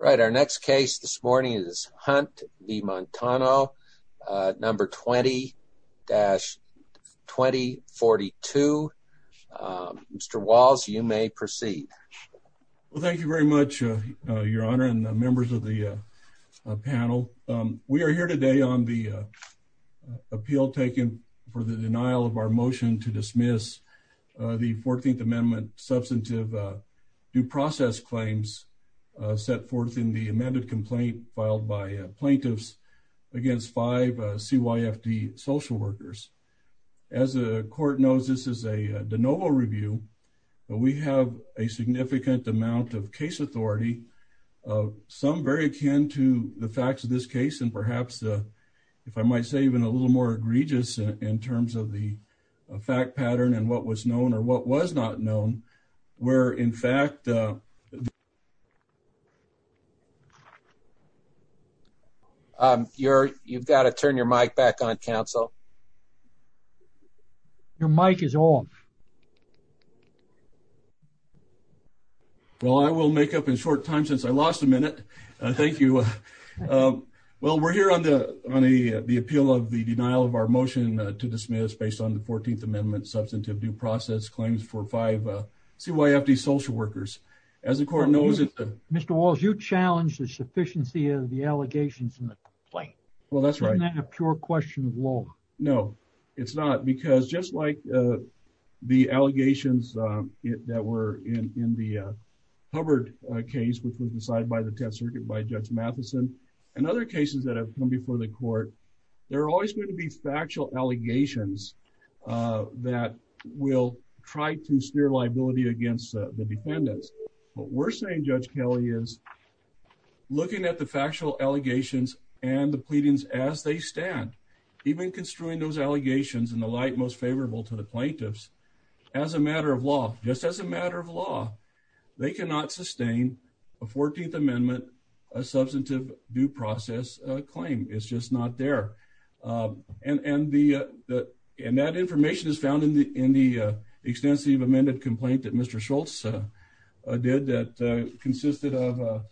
Right. Our next case this morning is Hunt v. Montano, number 20-2042. Mr. Walls, you may proceed. Well, thank you very much, Your Honor and members of the panel. We are here today on the appeal taken for the denial of our motion to dismiss the 14th Amendment substantive due process claims set forth in the amended complaint filed by plaintiffs against five CYFD social workers. As the Court knows, this is a de novo review, but we have a significant amount of case authority, some very akin to the facts of this case and perhaps, if I might say, even a little more egregious in terms of the fact pattern and what was known or what was not known, where in fact... You've got to turn your mic back on, counsel. Your mic is off. Well, I will make up in short time since I lost a minute. Thank you. Well, we're here on the appeal of the denial of our motion to dismiss based on the 14th Amendment substantive due process claims for five CYFD social workers. As the Court knows... Mr. Walls, you challenged the sufficiency of the allegations in the complaint. Well, that's right. Isn't that a pure question of law? No, it's not because just like the allegations that were in the Hubbard case, which was decided by the Tenth Circuit by Judge Matheson and other cases that have come before the Court, there are always going to be factual allegations that will try to steer liability against the defendants. What we're saying, Judge Kelly, is looking at the factual allegations and the pleadings as they stand, even construing those allegations in the light most favorable to the plaintiffs as a matter of law, just as a matter of law, they cannot sustain a 14th Amendment substantive due process claim. It's just not there. And that information is found in the extensive amended complaint that Mr. Schultz did that consisted of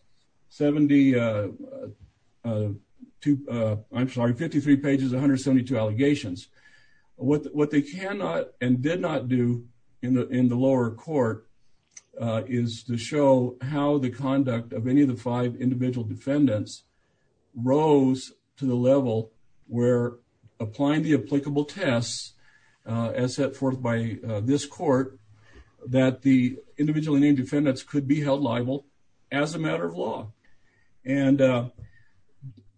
53 pages, 172 allegations. What they cannot and did not do in the lower court is to show how the conduct of any of the five individual defendants rose to the level where applying the applicable tests as set forth by this court, that the individually named defendants could be held liable as a matter of law. And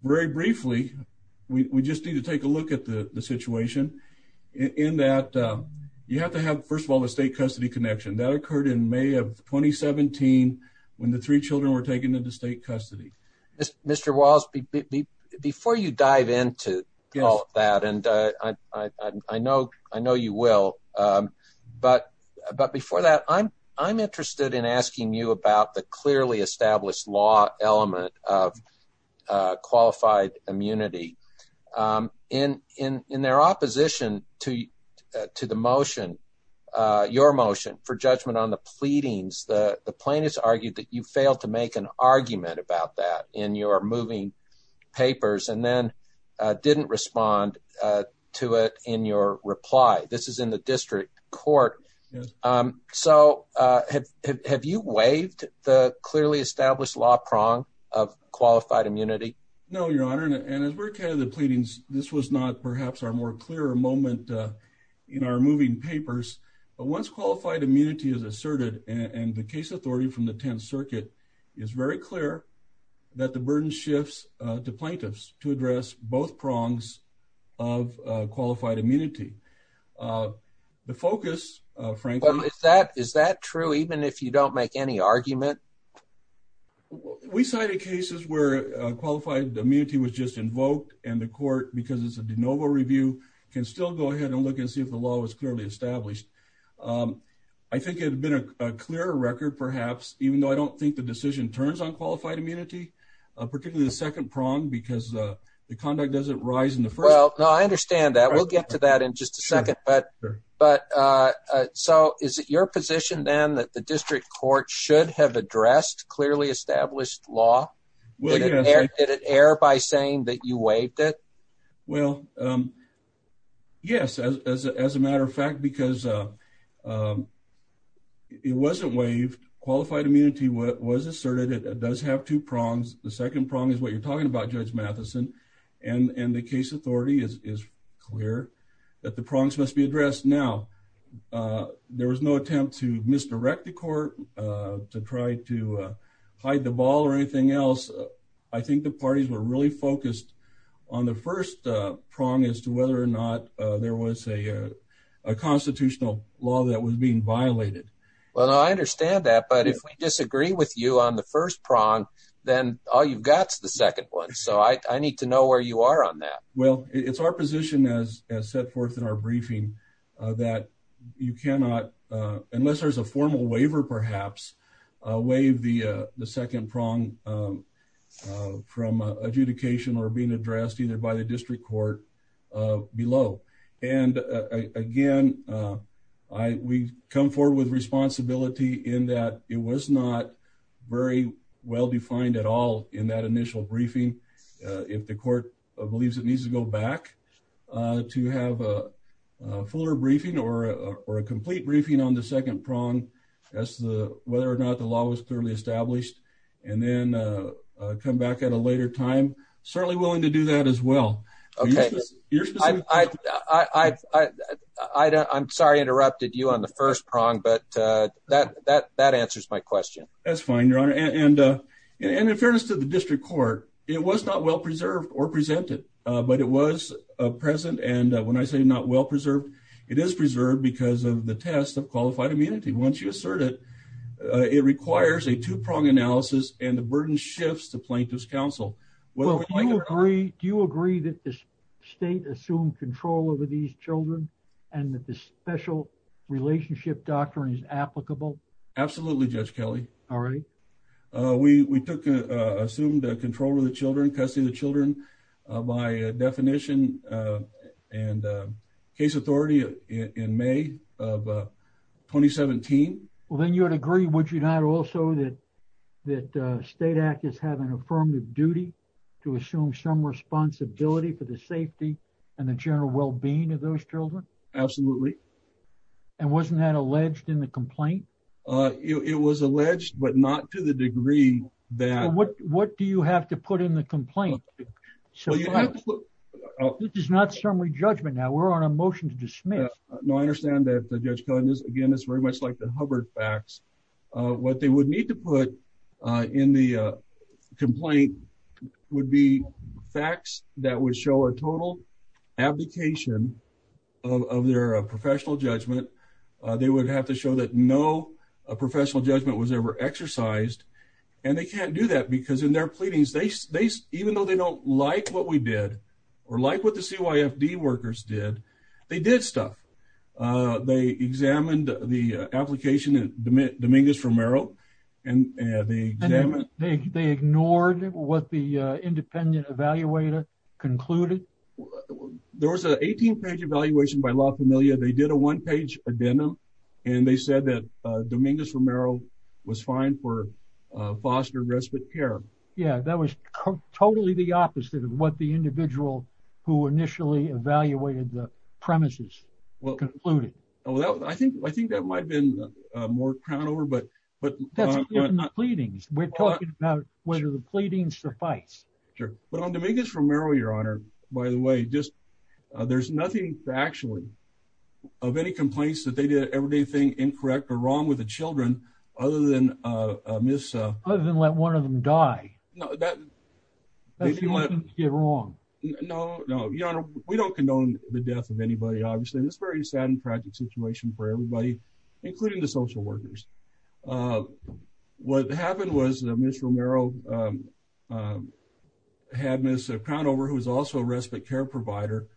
very briefly, we just need to take a look at the situation in that you have to have, first of all, the state custody connection that occurred in May of 2017 when the three children were taken into state custody. Mr. Walls, before you dive into all of that, and I know you will, but before that, I'm interested in asking you about the clearly established law element of qualified immunity. In their opposition to the motion, your motion, for judgment on the pleadings, the plaintiffs argued that you failed to make an argument about that in your moving papers and then didn't respond to it in your reply. This is in the district court. So have you waived the clearly established law prong of qualified immunity? No, Your Honor, and as we're ahead of the pleadings, this was not perhaps our more asserted, and the case authority from the 10th Circuit is very clear that the burden shifts to plaintiffs to address both prongs of qualified immunity. The focus, frankly... Is that true even if you don't make any argument? We cited cases where qualified immunity was just invoked and the court, because it's a de novo review, can still go ahead and look and see if the law was clearly established. I think it would have been a clearer record, perhaps, even though I don't think the decision turns on qualified immunity, particularly the second prong, because the conduct doesn't rise in the first... Well, no, I understand that. We'll get to that in just a second, but so is it your position then that the district court should have addressed clearly because it wasn't waived. Qualified immunity was asserted. It does have two prongs. The second prong is what you're talking about, Judge Matheson, and the case authority is clear that the prongs must be addressed. Now, there was no attempt to misdirect the court, to try to hide the ball or anything else. I think the parties were really focused on the first prong as to whether or not there was a constitutional law that was being violated. Well, I understand that, but if we disagree with you on the first prong, then all you've got is the second one, so I need to know where you are on that. Well, it's our position, as set forth in our briefing, that you cannot, unless there's a formal waiver, perhaps, waive the second prong from adjudication or being adjudicated. Again, we come forward with responsibility in that it was not very well-defined at all in that initial briefing. If the court believes it needs to go back to have a fuller briefing or a complete briefing on the second prong as to whether or not the law was clearly established, and then come back at a later time, certainly willing to do that as well. Okay. I'm sorry I interrupted you on the first prong, but that answers my question. That's fine, Your Honor, and in fairness to the district court, it was not well-preserved or presented, but it was present, and when I say not well-preserved, it is preserved because of the test of qualified immunity. Once you assert it, it requires a two-prong analysis and the burden shifts to plaintiff's counsel. Do you agree that the state assumed control over these children and that the special relationship doctrine is applicable? Absolutely, Judge Kelley. All right. We took assumed control of the children, custody of the children by definition and case authority in May of 2017. Well, then you would agree, would you not, also that state actors have an affirmative duty to assume some responsibility for the safety and the general well-being of those children? Absolutely. And wasn't that alleged in the complaint? It was alleged, but not to the degree that... What do you have to put in the complaint? This is not summary judgment now. We're on a motion to dismiss. No, I understand that, Judge Kelley. But there's a lot of information, a lot of covered facts. What they would need to put in the complaint would be facts that would show a total abdication of their professional judgment. They would have to show that no professional judgment was ever exercised, and they can't do that because in their pleadings, even though they don't like what we did or like what the CYFD workers did, they did stuff. They examined the application of Dominguez-Romero. They ignored what the independent evaluator concluded? There was an 18-page evaluation by La Familia. They did a one-page addendum, and they said that Dominguez-Romero was fine for foster and respite care. That was totally the opposite of what the individual who initially evaluated the premises concluded. I think that might have been more crowned over. That's in the pleadings. We're talking about whether the pleadings suffice. Sure. But on Dominguez-Romero, Your Honor, by the way, there's nothing actually of any complaints that they did everything incorrect or wrong with the children other than let one of the children die. No, Your Honor, we don't condone the death of anybody, obviously, and it's a very sad and tragic situation for everybody, including the social workers. What happened was that Ms. Romero had Ms. Crownover, who is also a respite care provider,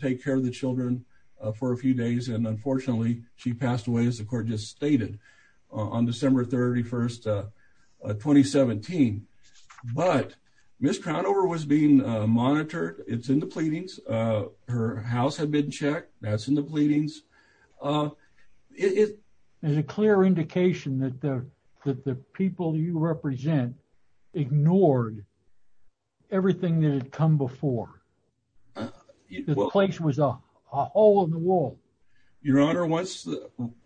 take care of the children for a few days, and unfortunately, she passed away, as the court just stated, on December 31, 2017. But Ms. Crownover was being monitored. It's in the pleadings. Her house had been checked. That's in the pleadings. There's a clear indication that the people you represent ignored everything that had come before. The place was a hole in the wall. Your Honor, once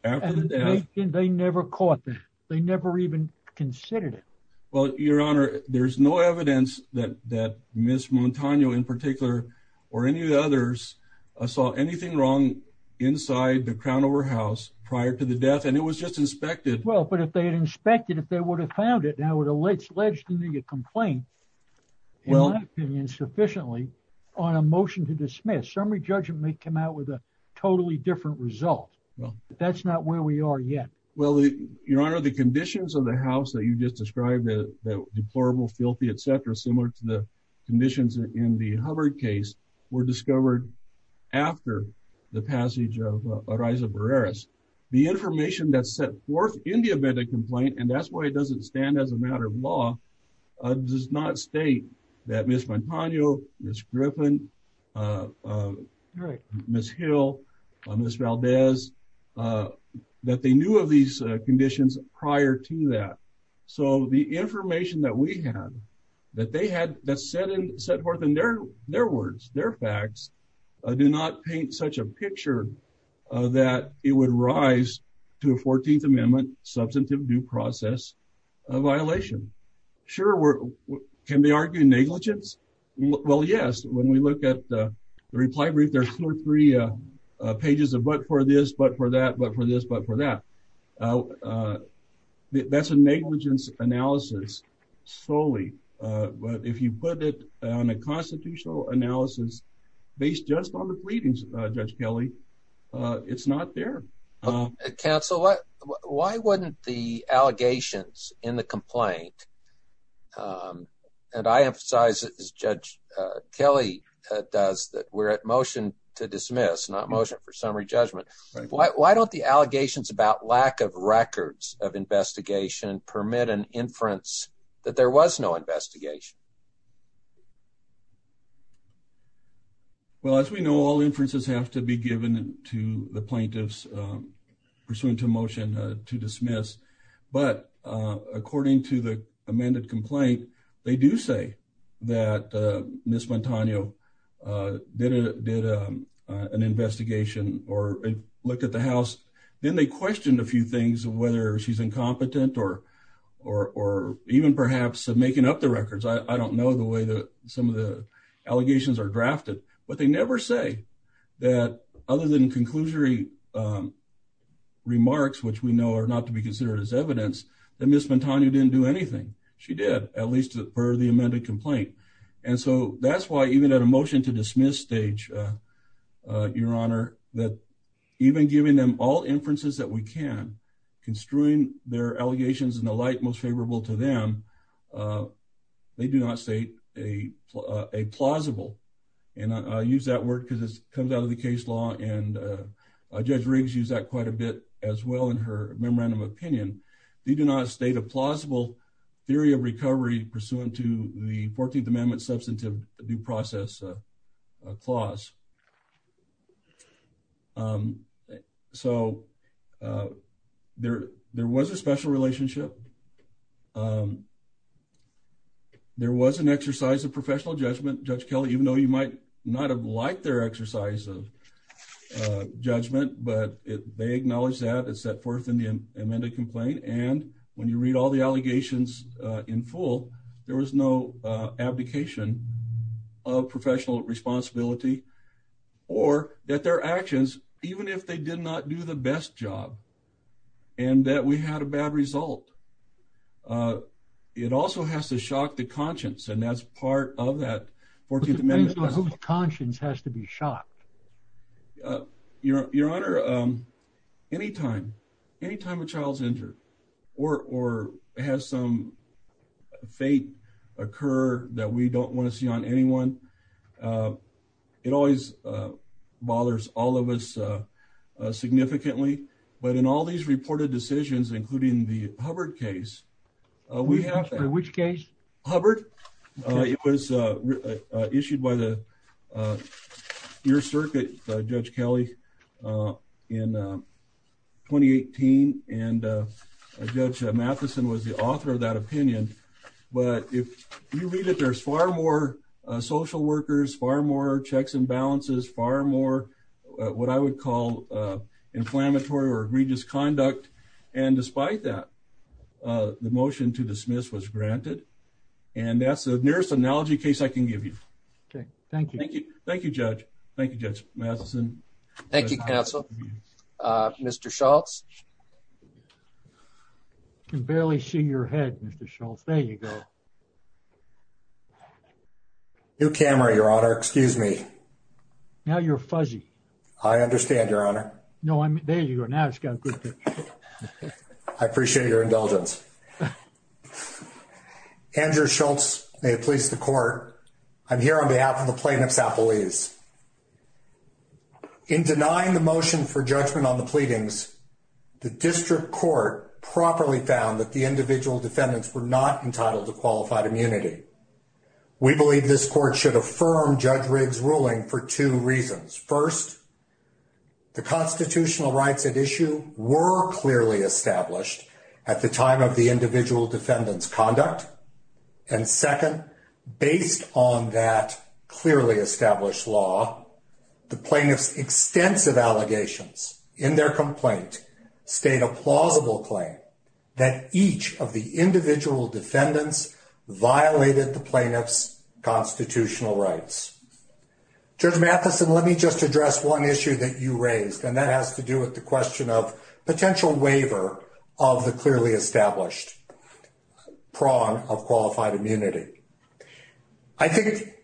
after the death— They never caught that. They never even considered it. Well, Your Honor, there's no evidence that Ms. Montano, in particular, or any of the others, saw anything wrong inside the Crownover house prior to the death, and it was just inspected. Well, but if they had inspected, if they would have found it, now it's alleged to be a complaint, in my opinion, sufficiently, on a motion to dismiss. Summary judgment may come out with a totally different result, but that's not where we are yet. Well, Your Honor, the conditions of the house that you just described, the deplorable, filthy, etc., similar to the conditions in the Hubbard case, were discovered after the passage of Ariza Barreras. The information that's set forth in the event of complaint, and that's why it doesn't stand as a matter of law, does not state that Ms. Montano, Ms. Griffin, Ms. Hill, Ms. Valdez, that they knew of these conditions prior to that. So the information that we have, that they had, that's set forth in their words, their facts, do not paint such a picture that it would rise to a 14th Amendment substantive due process violation. Sure, can they argue negligence? Well, yes. When we look at the reply brief, there's two or three pages of what for this, what for that, what for this, what for that. That's a negligence analysis solely. But if you put it on a constitutional analysis based just on the pleadings, Judge Kelly, it's not there. Counsel, why wouldn't the allegations in the complaint, and I emphasize it as Judge Kelly does, that we're at motion to dismiss, not motion for summary judgment. Why don't the allegations about lack of records of investigation permit an inference that there was no investigation? Well, as we know, all inferences have to be given to the plaintiffs pursuant to motion to dismiss. But according to the amended complaint, they do say that Ms. Montano did an investigation or looked at the house. Then they questioned a few things, whether she's incompetent or even perhaps making up the records. I don't know the way that some of the allegations are drafted, but they never say that other than conclusory remarks, which we know are not to be considered as evidence, that Ms. Montano didn't do anything. She did, at least per the amended complaint. And so that's why even at a motion to dismiss stage, Your Honor, that even giving them all to them, they do not state a plausible, and I use that word because it comes out of the case law, and Judge Riggs used that quite a bit as well in her memorandum opinion. They do not state a plausible theory of recovery pursuant to the 14th Amendment substantive due process clause. So there was a special relationship. There was an exercise of professional judgment. Judge Kelly, even though you might not have liked their exercise of judgment, but they acknowledged that. It's set forth in the amended complaint. And when you read all the allegations in full, there was no abdication of professional responsibility or that their actions, even if they did not do the best job and that we had a bad result, it also has to shock the conscience. And that's part of that 14th Amendment. Uh, Your Honor, um, anytime, anytime a child's injured or, or has some fate occur that we don't want to see on anyone, uh, it always, uh, bothers all of us, uh, uh, significantly, but in all these reported decisions, including the Hubbard case, uh, we have which case Hubbard, uh, it was, uh, uh, issued by the, uh, your circuit, uh, judge Kelly, uh, in, uh, 2018. And, uh, uh, judge Matheson was the author of that opinion. But if you read it, there's far more, uh, social workers, far more checks and balances, far more, uh, what I would call, uh, inflammatory or egregious conduct. And despite that, uh, the motion to dismiss was granted. And that's the nearest analogy case I can give you. Okay. Thank you. Thank you. Thank you, judge. Thank you. Judge Matheson. Thank you, counsel. Uh, Mr. Schultz. Can barely see your head, Mr. Schultz. There you go. New camera, Your Honor. Excuse me. Now you're fuzzy. I understand, Your Honor. No, there you are now. I appreciate your indulgence. Andrew Schultz, may it please the court. I'm here on behalf of the plaintiff's appellees. In denying the motion for judgment on the pleadings, the district court properly found that the individual defendants were not entitled to qualified immunity. We believe this court should affirm Judge Riggs' ruling for two reasons. First, the constitutional rights at issue were clearly established at the time of the individual defendants' conduct. And second, based on that clearly established law, the plaintiff's extensive allegations in their complaint state a plausible claim that each of the individual defendants violated the plaintiff's constitutional rights. Judge Matheson, let me just address one issue that you raised, and that has to do with the question of potential waiver of the clearly established prong of qualified immunity. I think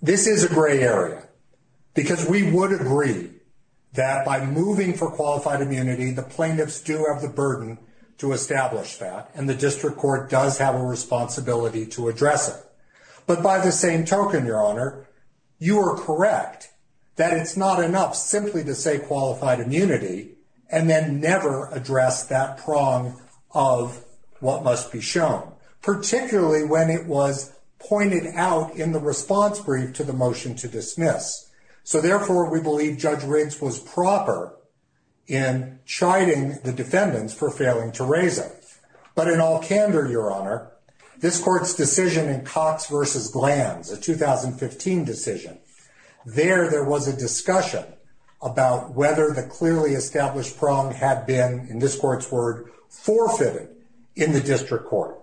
this is a gray area because we would agree that by moving for qualified immunity, the plaintiffs do have the burden to establish that, and the district court does have a responsibility to address it. But by the same token, Your Honor, you are correct that it's not enough simply to say qualified immunity and then never address that prong of what must be shown, particularly when it was pointed out in the response brief to the motion to dismiss. So therefore, we believe Judge Riggs was proper in chiding the defendants for failing to raise it. But in all candor, Your Honor, this court's decision in Cox versus Glantz, a 2015 decision, there was a discussion about whether the clearly established prong had been, in this court's word, forfeited in the district court.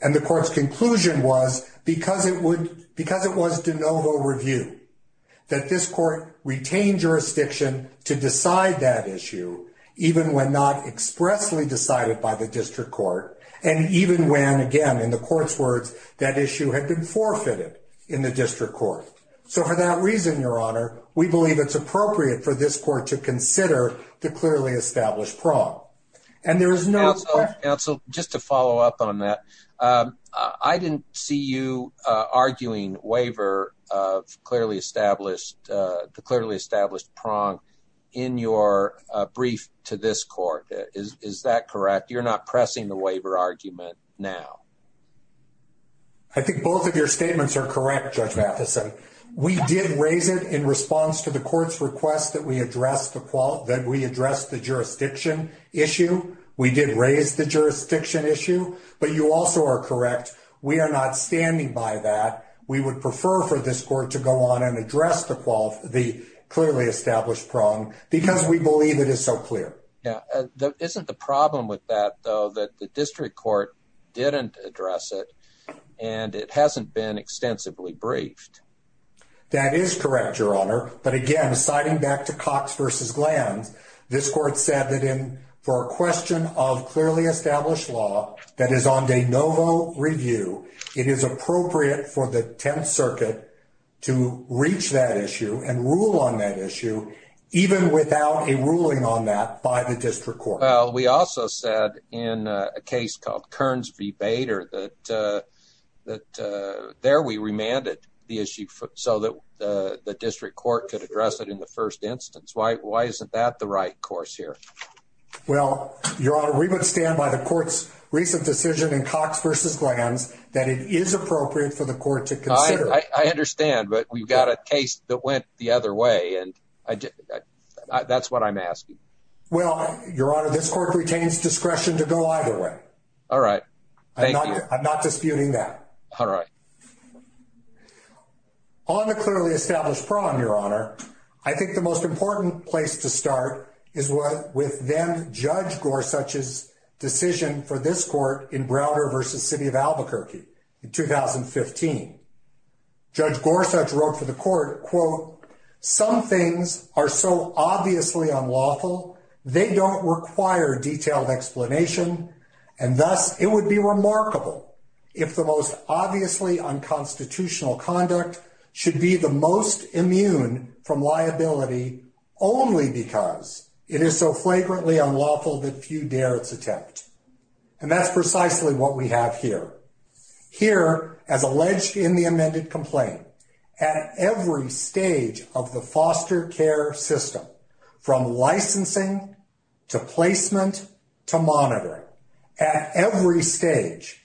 And the court's conclusion was, because it was de novo review, that this court retained jurisdiction to decide that issue, even when not expressly decided by the district court, and even when, again, in the court's words, that issue had been forfeited in the district court. So for that reason, Your Honor, we believe it's appropriate for this court to consider the clearly established prong. And there is no... Counsel, just to follow up on that, I didn't see you arguing waiver of the clearly established prong in your brief to this court. Is that correct? You're not pressing the waiver argument now. I think both of your statements are correct, Judge Matheson. We did raise it in response to the court's request that that we address the jurisdiction issue. We did raise the jurisdiction issue. But you also are correct. We are not standing by that. We would prefer for this court to go on and address the clearly established prong, because we believe it is so clear. Yeah. Isn't the problem with that, though, that the district court didn't address it, and it hasn't been extensively briefed? That is correct, Your Honor. But again, citing back to Cox v. Glantz, this court said that in for a question of clearly established law that is on de novo review, it is appropriate for the 10th Circuit to reach that issue and rule on that issue, even without a ruling on that by the district court. Well, we also said in a case called Kearns v. Bader that there we remanded the issue so that the district court could address it in the first instance. Why isn't that the right course here? Well, Your Honor, we would stand by the court's recent decision in Cox v. Glantz that it is appropriate for the court to consider. I understand, but we've got a case that went the other way, and that's what I'm asking. Well, Your Honor, this court retains discretion to go either way. All right. Thank you. I'm not disputing that. All right. On the clearly established prong, Your Honor, I think the most important place to start is with then-Judge Gorsuch's decision for this court in Browder v. City of Albuquerque in 2015. Judge Gorsuch wrote for the court, quote, Some things are so obviously unlawful they don't require detailed explanation, and thus it would be remarkable if the most obviously unconstitutional conduct should be the most immune from liability only because it is so flagrantly unlawful that few dare its attempt. And that's precisely what we have here. Here, as alleged in the amended complaint, at every stage of the foster care system, from licensing to placement to monitoring, at every stage,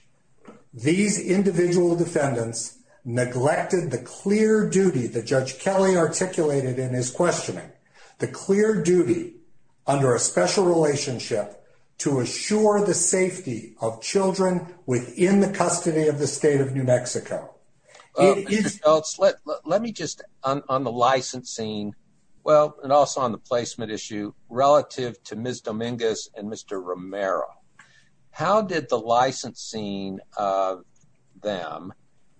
these individual defendants neglected the clear duty that Judge Kelly of children within the custody of the state of New Mexico. Let me just, on the licensing, well, and also on the placement issue, relative to Ms. Dominguez and Mr. Romero, how did the licensing of them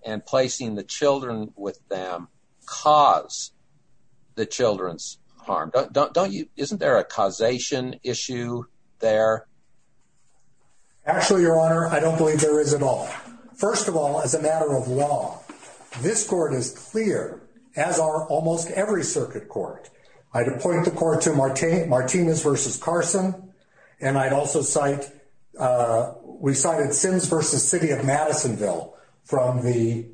and placing the children with them cause the children's harm? Isn't there a causation issue there? Actually, Your Honor, I don't believe there is at all. First of all, as a matter of law, this court is clear, as are almost every circuit court. I'd appoint the court to Martinez v. Carson, and I'd also cite, we cited Sims v. City of Madisonville from the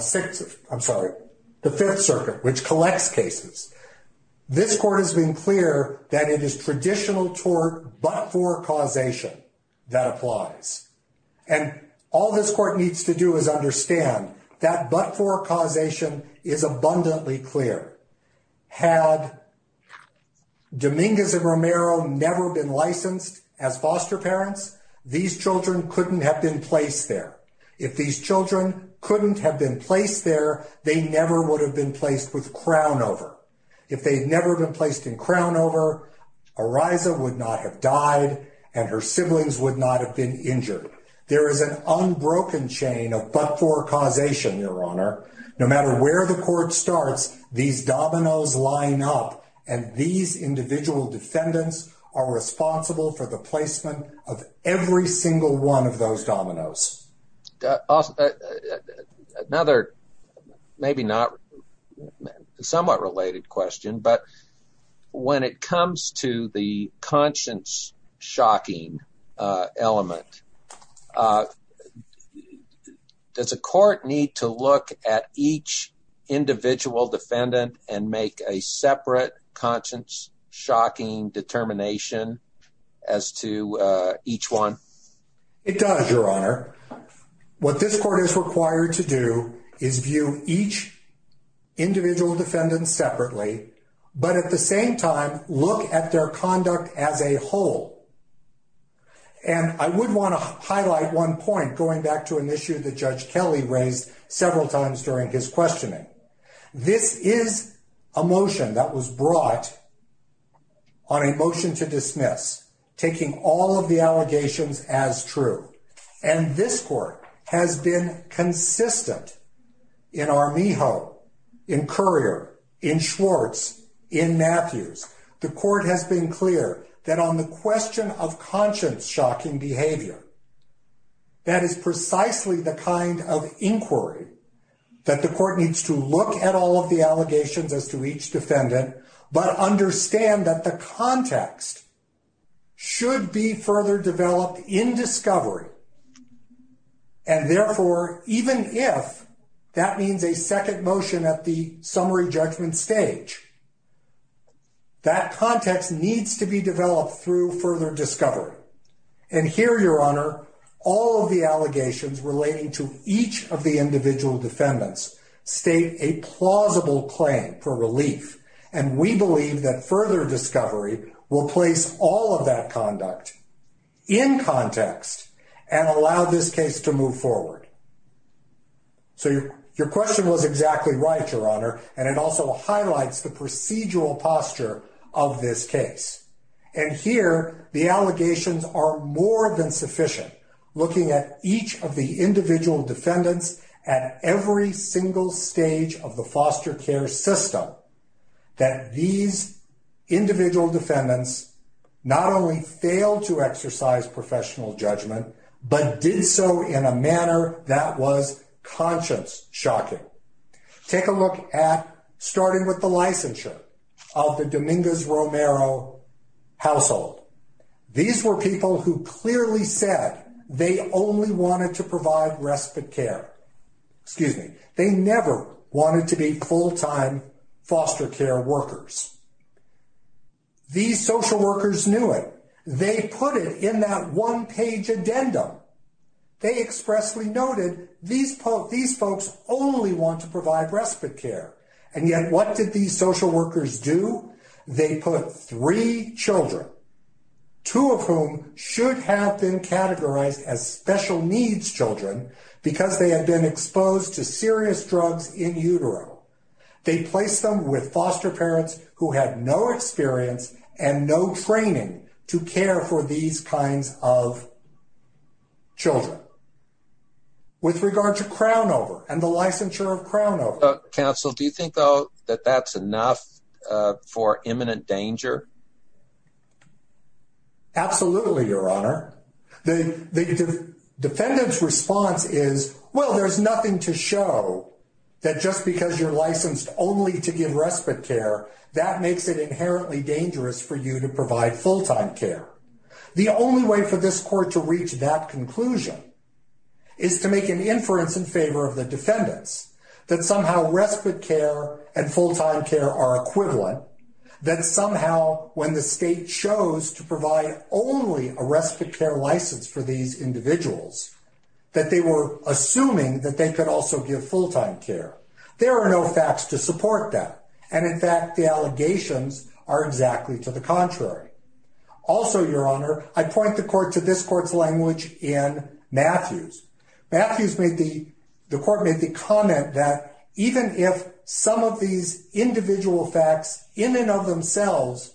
Sixth, I'm sorry, the Fifth Circuit, which collects cases. This court has been clear that it is traditional tort but for causation that applies. And all this court needs to do is understand that but for causation is abundantly clear. Had Dominguez and Romero never been licensed as foster parents, these children couldn't have been placed there. If these children couldn't have been placed there, they never would have been crowned over. If they'd never been placed in crown over, Ariza would not have died, and her siblings would not have been injured. There is an unbroken chain of but for causation, Your Honor. No matter where the court starts, these dominoes line up, and these individual defendants are responsible for the placement of every single one of those dominoes. Also, another, maybe not somewhat related question, but when it comes to the conscience shocking element, does a court need to look at each individual defendant and make a separate conscience shocking determination as to each one? It does, Your Honor. What this court is required to do is view each individual defendant separately, but at the same time, look at their conduct as a whole. And I would want to highlight one point, going back to an issue that Judge Kelly raised several times during his questioning. This is a motion that was brought on a motion to dismiss, taking all of the allegations as true. And this court has been consistent in Armijo, in Currier, in Schwartz, in Matthews. The court has been clear that on the question of conscience shocking behavior, that is precisely the kind of inquiry that the court needs to look at all of the allegations as to each defendant, but understand that the context should be further developed in discovery. And therefore, even if that means a second motion at the summary judgment stage, that context needs to be developed through further discovery. And here, Your Honor, all of the allegations relating to each of the individual defendants state a plausible claim for relief. And we believe that further discovery will place all of that conduct in context and allow this case to move forward. So your question was exactly right, Your Honor. And it also highlights the procedural posture of this case. And here, the allegations are more than sufficient, looking at each of the individual defendants at every single stage of the foster care system, that these individual defendants not only failed to exercise professional judgment, but did so in a manner that was conscience shocking. Take a look at starting with the licensure of the Dominguez-Romero household. These were people who clearly said they only wanted to provide respite care. Excuse me. They never wanted to be full-time foster care workers. These social workers knew it. They put it in that one-page addendum. They expressly noted these folks only want to provide respite care. And yet, what did these social workers do? They put three children, two of whom should have been categorized as special needs children because they had been exposed to serious drugs in utero. They placed them with foster parents who had no experience and no training to care for these kinds of children. With regard to Crownover and the licensure of Crownover. Counsel, do you think, though, that that's enough for imminent danger? Absolutely, Your Honor. The defendant's response is, well, there's nothing to show that just because you're licensed only to give respite care, that makes it inherently dangerous for you to provide full-time care. The only way for this court to reach that conclusion is to make an inference in favor of the defendants that somehow respite care and full-time care are equivalent, that somehow when the state chose to provide only a respite care license for these individuals, that they were assuming that they could also give full-time care. There are no facts to support that, and in fact, the allegations are exactly to the contrary. Also, Your Honor, I point the court to this court's language in Matthews. Matthews made the the court made the comment that even if some of these individual facts in and of themselves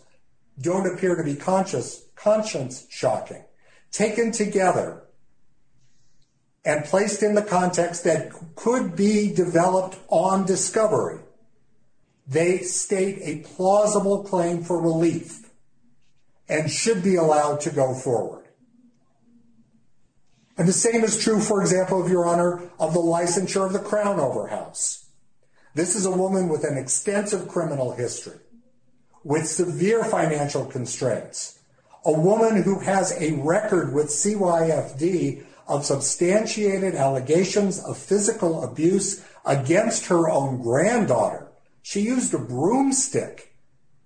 don't appear to be conscious, conscience shocking, taken together and placed in the context that could be developed on discovery, they state a plausible claim for relief and should be allowed to go forward. And the same is true, for example, Your Honor, of the licensure of the Crown Overhouse. This is a woman with an extensive criminal history, with severe financial constraints, a woman who has a record with CYFD of substantiated allegations of physical abuse against her own granddaughter. She used a broomstick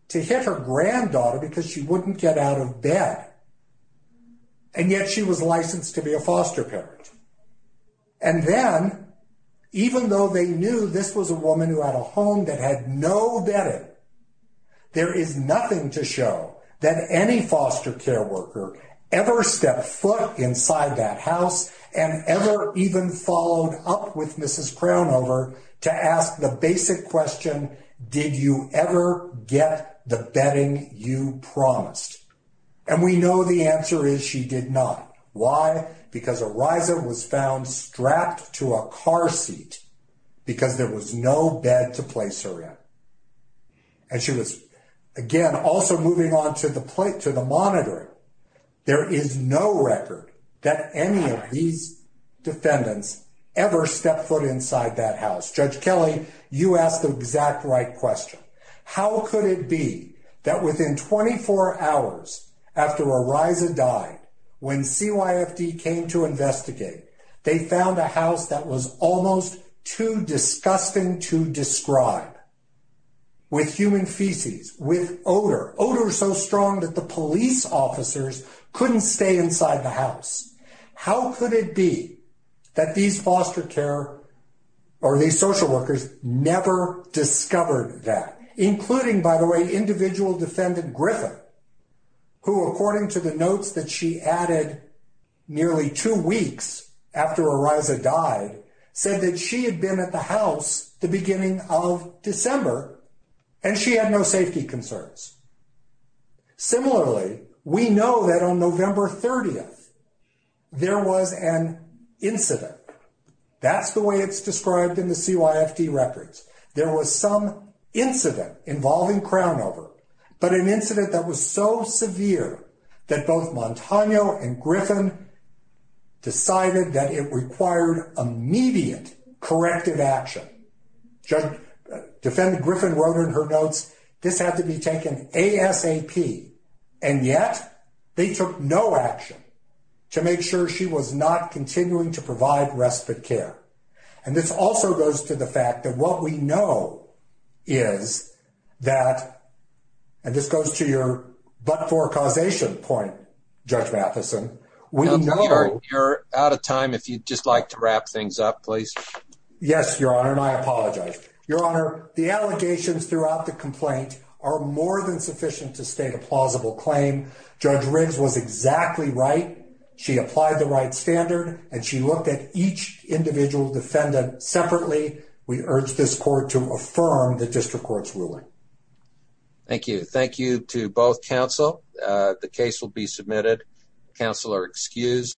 to hit her granddaughter because she wouldn't get out of bed, and yet she was licensed to be a foster parent. And then, even though they knew this was a woman who had a home that had no debt, there is nothing to show that any foster care worker ever stepped foot inside that house and ever even followed up with Mrs. Crownover to ask the basic question, did you ever get the bedding you promised? And we know the answer is she did not. Why? Because Ariza was found strapped to a car seat because there was no bed to place her in. And she was again, also moving on to the plate, to the monitor. There is no record that any of these defendants ever stepped foot inside that house. Judge Kelly, you asked the exact right question. How could it be that within 24 hours after Ariza died, when CYFD came to investigate, they found a house that was almost too disgusting to describe, with human feces, with odor, odor so strong that the police officers couldn't stay inside the house? How could it be that these foster care or these social workers never discovered that? Including, by the way, individual defendant Griffin, who according to the notes that she added, nearly two weeks after Ariza died, said that she had been at the house the beginning of December and she had no safety concerns. Similarly, we know that on November 30th, there was an incident. That's the way it's described in the CYFD records. There was some incident involving but an incident that was so severe that both Montano and Griffin decided that it required immediate corrective action. Defendant Griffin wrote in her notes, this had to be taken ASAP, and yet they took no action to make sure she was not continuing to provide respite care. This also goes to the fact that what we know is that, and this goes to your but-for-causation point, Judge Matheson, we know- You're out of time. If you'd just like to wrap things up, please. Yes, Your Honor, and I apologize. Your Honor, the allegations throughout the complaint are more than sufficient to state a plausible claim. Judge Riggs was exactly right. She applied the right standard and she looked at each individual defendant separately. We urge this court to affirm the district court's ruling. Thank you. Thank you to both counsel. The case will be submitted. Counsel are excused.